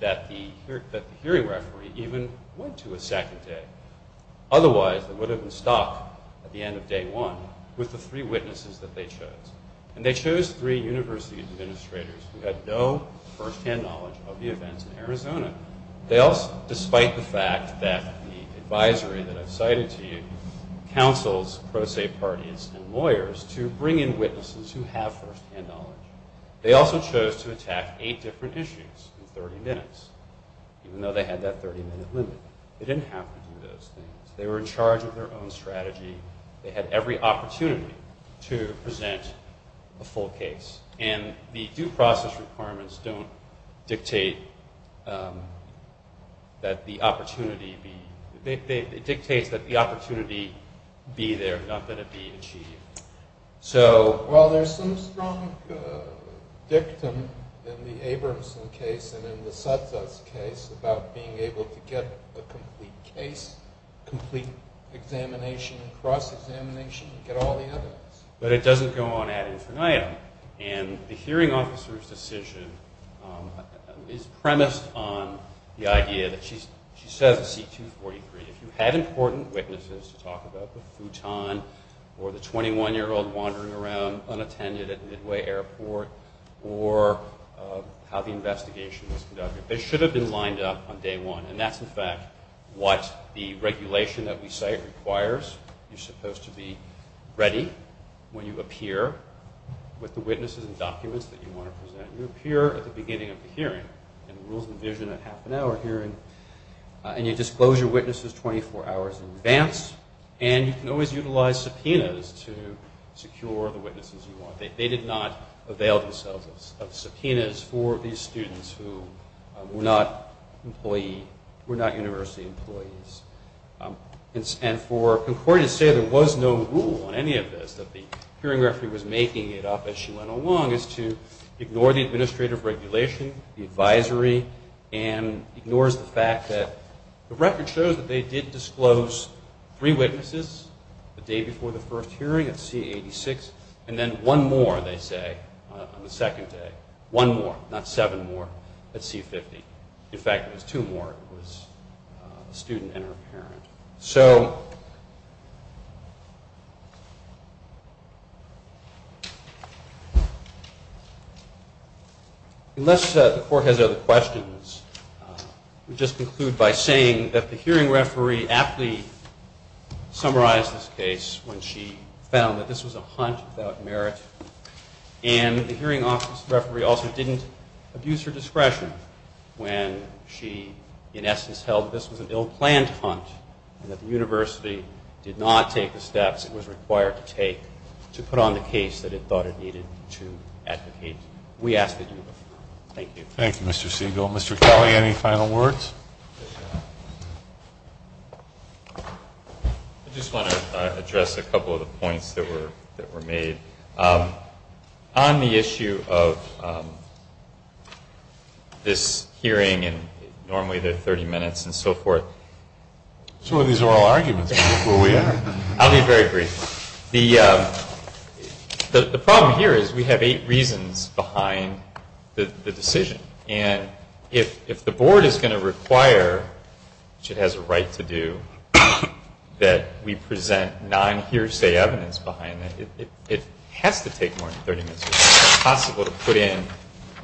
that the hearing referee even went to a second day. Otherwise, they would have been stuck at the end of day one with the three witnesses that they chose. And they chose three university administrators who had no firsthand knowledge of the events in Arizona. They also, despite the fact that the advisory that I've cited to you counsels, pro se parties, and lawyers to bring in witnesses who have firsthand knowledge. They also chose to attack eight different issues in 30 minutes, even though they had that 30-minute limit. They didn't have to do those things. They were in charge of their own strategy. They had every opportunity to present a full case. And the due process requirements don't dictate that the opportunity be... It dictates that the opportunity be there, not that it be achieved. So... Well, there's some strong dictum in the Abramson case and in the Satza's case about being able to get a complete case, complete examination, cross-examination, and get all the evidence. But it doesn't go on ad infinitum. And the hearing officer's decision is premised on the idea that she says at C-243, if you have important witnesses to talk about the futon or the 21-year-old wandering around unattended at Midway Airport or how the investigation was conducted, they should have been lined up on day one. And that's, in fact, what the regulation that we cite requires. You're supposed to be ready when you appear with the witnesses and documents that you want to present. You appear at the beginning of the hearing. And the rules envision a half-an-hour hearing. And you disclose your witnesses 24 hours in advance. And you can always utilize subpoenas to secure the witnesses you want. They did not avail themselves of subpoenas for these students who were not university employees. And for Concordia to say there was no rule on any of this, that the hearing referee was making it up as she went along, is to ignore the administrative regulation, the advisory, and ignores the fact that the record shows that they did disclose three witnesses the day before the first hearing at C-86, and then one more, they say, on the second day. One more, not seven more, at C-50. In fact, it was two more. It was a student and her parent. So unless the court has other questions, we'll just conclude by saying that the hearing referee aptly summarized this case when she found that this was a hunt without merit. And the hearing referee also didn't abuse her discretion when she, in essence, held that this was an ill-planned hunt and that the university did not take the steps it was required to take to put on the case that it thought it needed to advocate. We ask that you move. Thank you. Thank you, Mr. Siegel. Mr. Kelly, any final words? I just want to address a couple of the points that were made. On the issue of this hearing, and normally they're 30 minutes and so forth. Some of these are all arguments. I'll be very brief. The problem here is we have eight reasons behind the decision. And if the board is going to require, which it has a right to do, that we present non-hearsay evidence behind it, it has to take more than 30 minutes. It's impossible to put in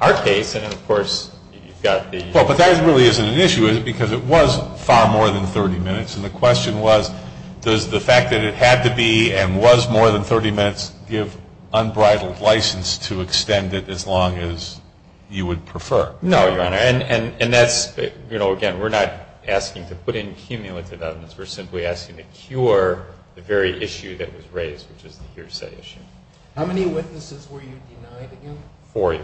our case and, of course, you've got the ---- Well, but that really isn't an issue, is it? Because it was far more than 30 minutes, and the question was does the fact that it had to be and was more than 30 minutes give unbridled license to extend it as long as you would prefer? No, Your Honor. And that's, you know, again, we're not asking to put in cumulative evidence. We're simply asking to cure the very issue that was raised, which is the hearsay issue. How many witnesses were you denied again? Four.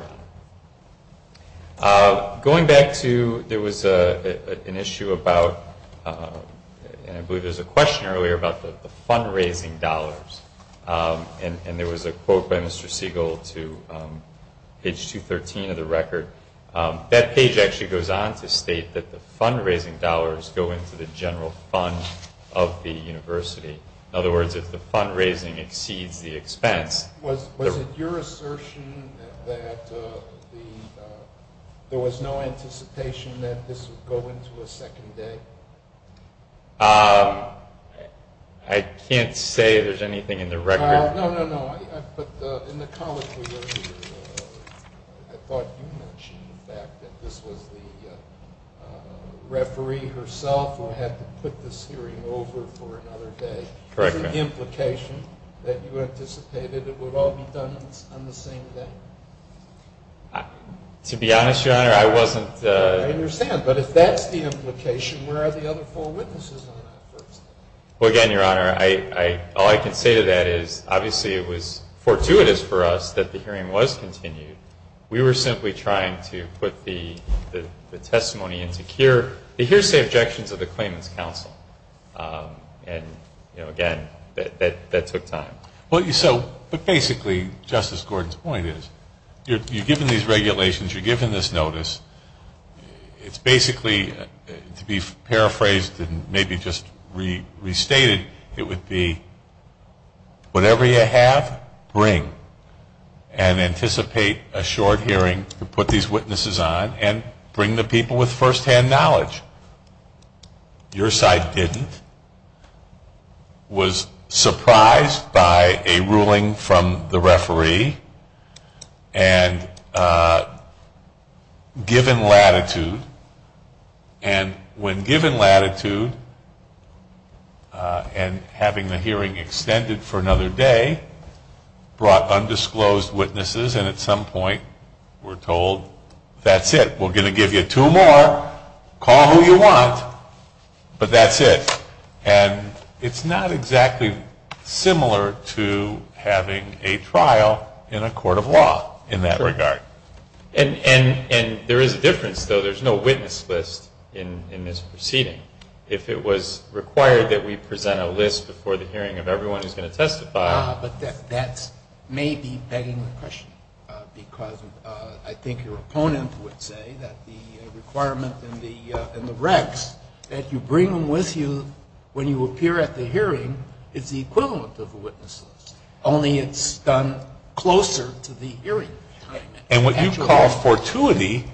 Going back to there was an issue about, and I believe there was a question earlier about the fundraising dollars. And there was a quote by Mr. Siegel to page 213 of the record. That page actually goes on to state that the fundraising dollars go into the general fund of the university. In other words, if the fundraising exceeds the expense. Was it your assertion that there was no anticipation that this would go into a second day? I can't say there's anything in the record. No, no, no. But in the comment we wrote, I thought you mentioned the fact that this was the referee herself who had to put this hearing over for another day. Correct me. Is it the implication that you anticipated it would all be done on the same day? To be honest, Your Honor, I wasn't. I understand. But if that's the implication, where are the other four witnesses on that first? Well, again, Your Honor, all I can say to that is, obviously it was fortuitous for us that the hearing was continued. We were simply trying to put the testimony into the hearsay objections of the Claimants Council. And, again, that took time. But basically, Justice Gordon's point is, you're given these regulations. You're given this notice. It's basically, to be paraphrased and maybe just restated, it would be whatever you have, bring. And anticipate a short hearing to put these witnesses on and bring the people with firsthand knowledge. Your side didn't. Was surprised by a ruling from the referee. And given latitude. And when given latitude and having the hearing extended for another day, brought undisclosed witnesses. And at some point we're told, that's it. We're going to give you two more. Call who you want. But that's it. And it's not exactly similar to having a trial in a court of law in that regard. And there is a difference, though. There's no witness list in this proceeding. If it was required that we present a list before the hearing of everyone who's going to testify. But that may be begging the question. Because I think your opponent would say that the requirement in the recs, that you bring them with you when you appear at the hearing, is the equivalent of a witness list. Only it's done closer to the hearing time. And what you call fortuity,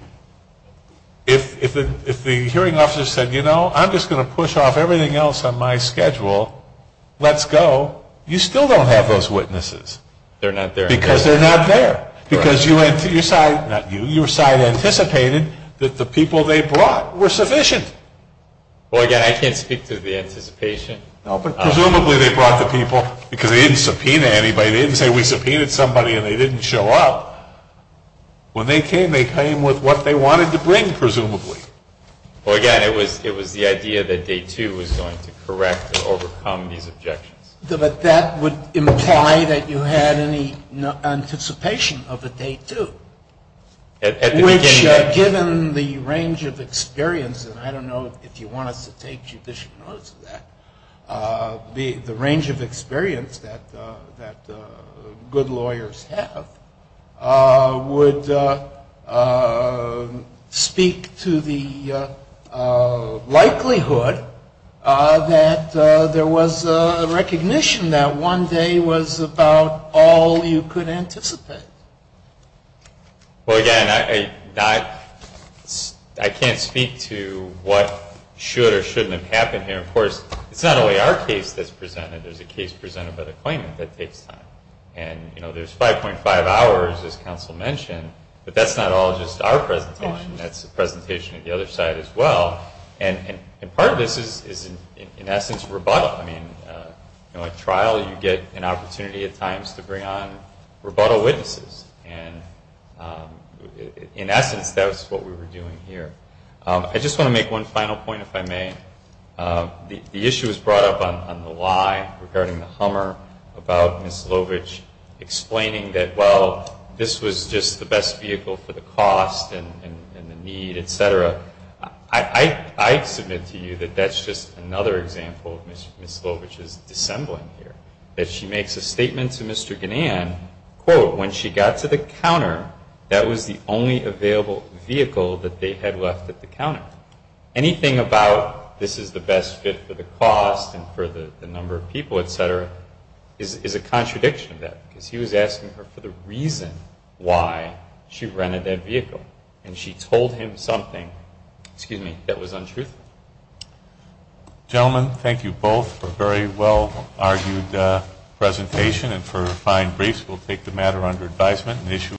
if the hearing officer said, you know, I'm just going to push off everything else on my schedule, let's go. You still don't have those witnesses. They're not there. Because they're not there. Because your side, not you, your side anticipated that the people they brought were sufficient. Well, again, I can't speak to the anticipation. No, but presumably they brought the people because they didn't subpoena anybody. They didn't say we subpoenaed somebody and they didn't show up. When they came, they came with what they wanted to bring, presumably. Well, again, it was the idea that day two was going to correct or overcome these objections. But that would imply that you had any anticipation of a day two. Which, given the range of experience, and I don't know if you want us to take judicial notice of that, the range of experience that good lawyers have would speak to the recognition that one day was about all you could anticipate. Well, again, I can't speak to what should or shouldn't have happened here. Of course, it's not only our case that's presented. There's a case presented by the plaintiff that takes time. And, you know, there's 5.5 hours, as counsel mentioned, but that's not all just our presentation. That's a presentation of the other side as well. And part of this is in essence rebuttal. I mean, you know, at trial you get an opportunity at times to bring on rebuttal witnesses. And in essence, that's what we were doing here. I just want to make one final point, if I may. The issue was brought up on the lie regarding the Hummer about Ms. Lovich explaining that, well, this was just the best vehicle for the cost and the need, et cetera. I submit to you that that's just another example of Ms. Lovich's dissembling here, that she makes a statement to Mr. Ganan, quote, when she got to the counter that was the only available vehicle that they had left at the counter. Anything about this is the best fit for the cost and for the number of people, et cetera, is a contradiction of that because he was asking her for the reason why she rented that vehicle. And she told him something, excuse me, that was untruthful. Gentlemen, thank you both for a very well-argued presentation and for fine briefs. We'll take the matter under advisement.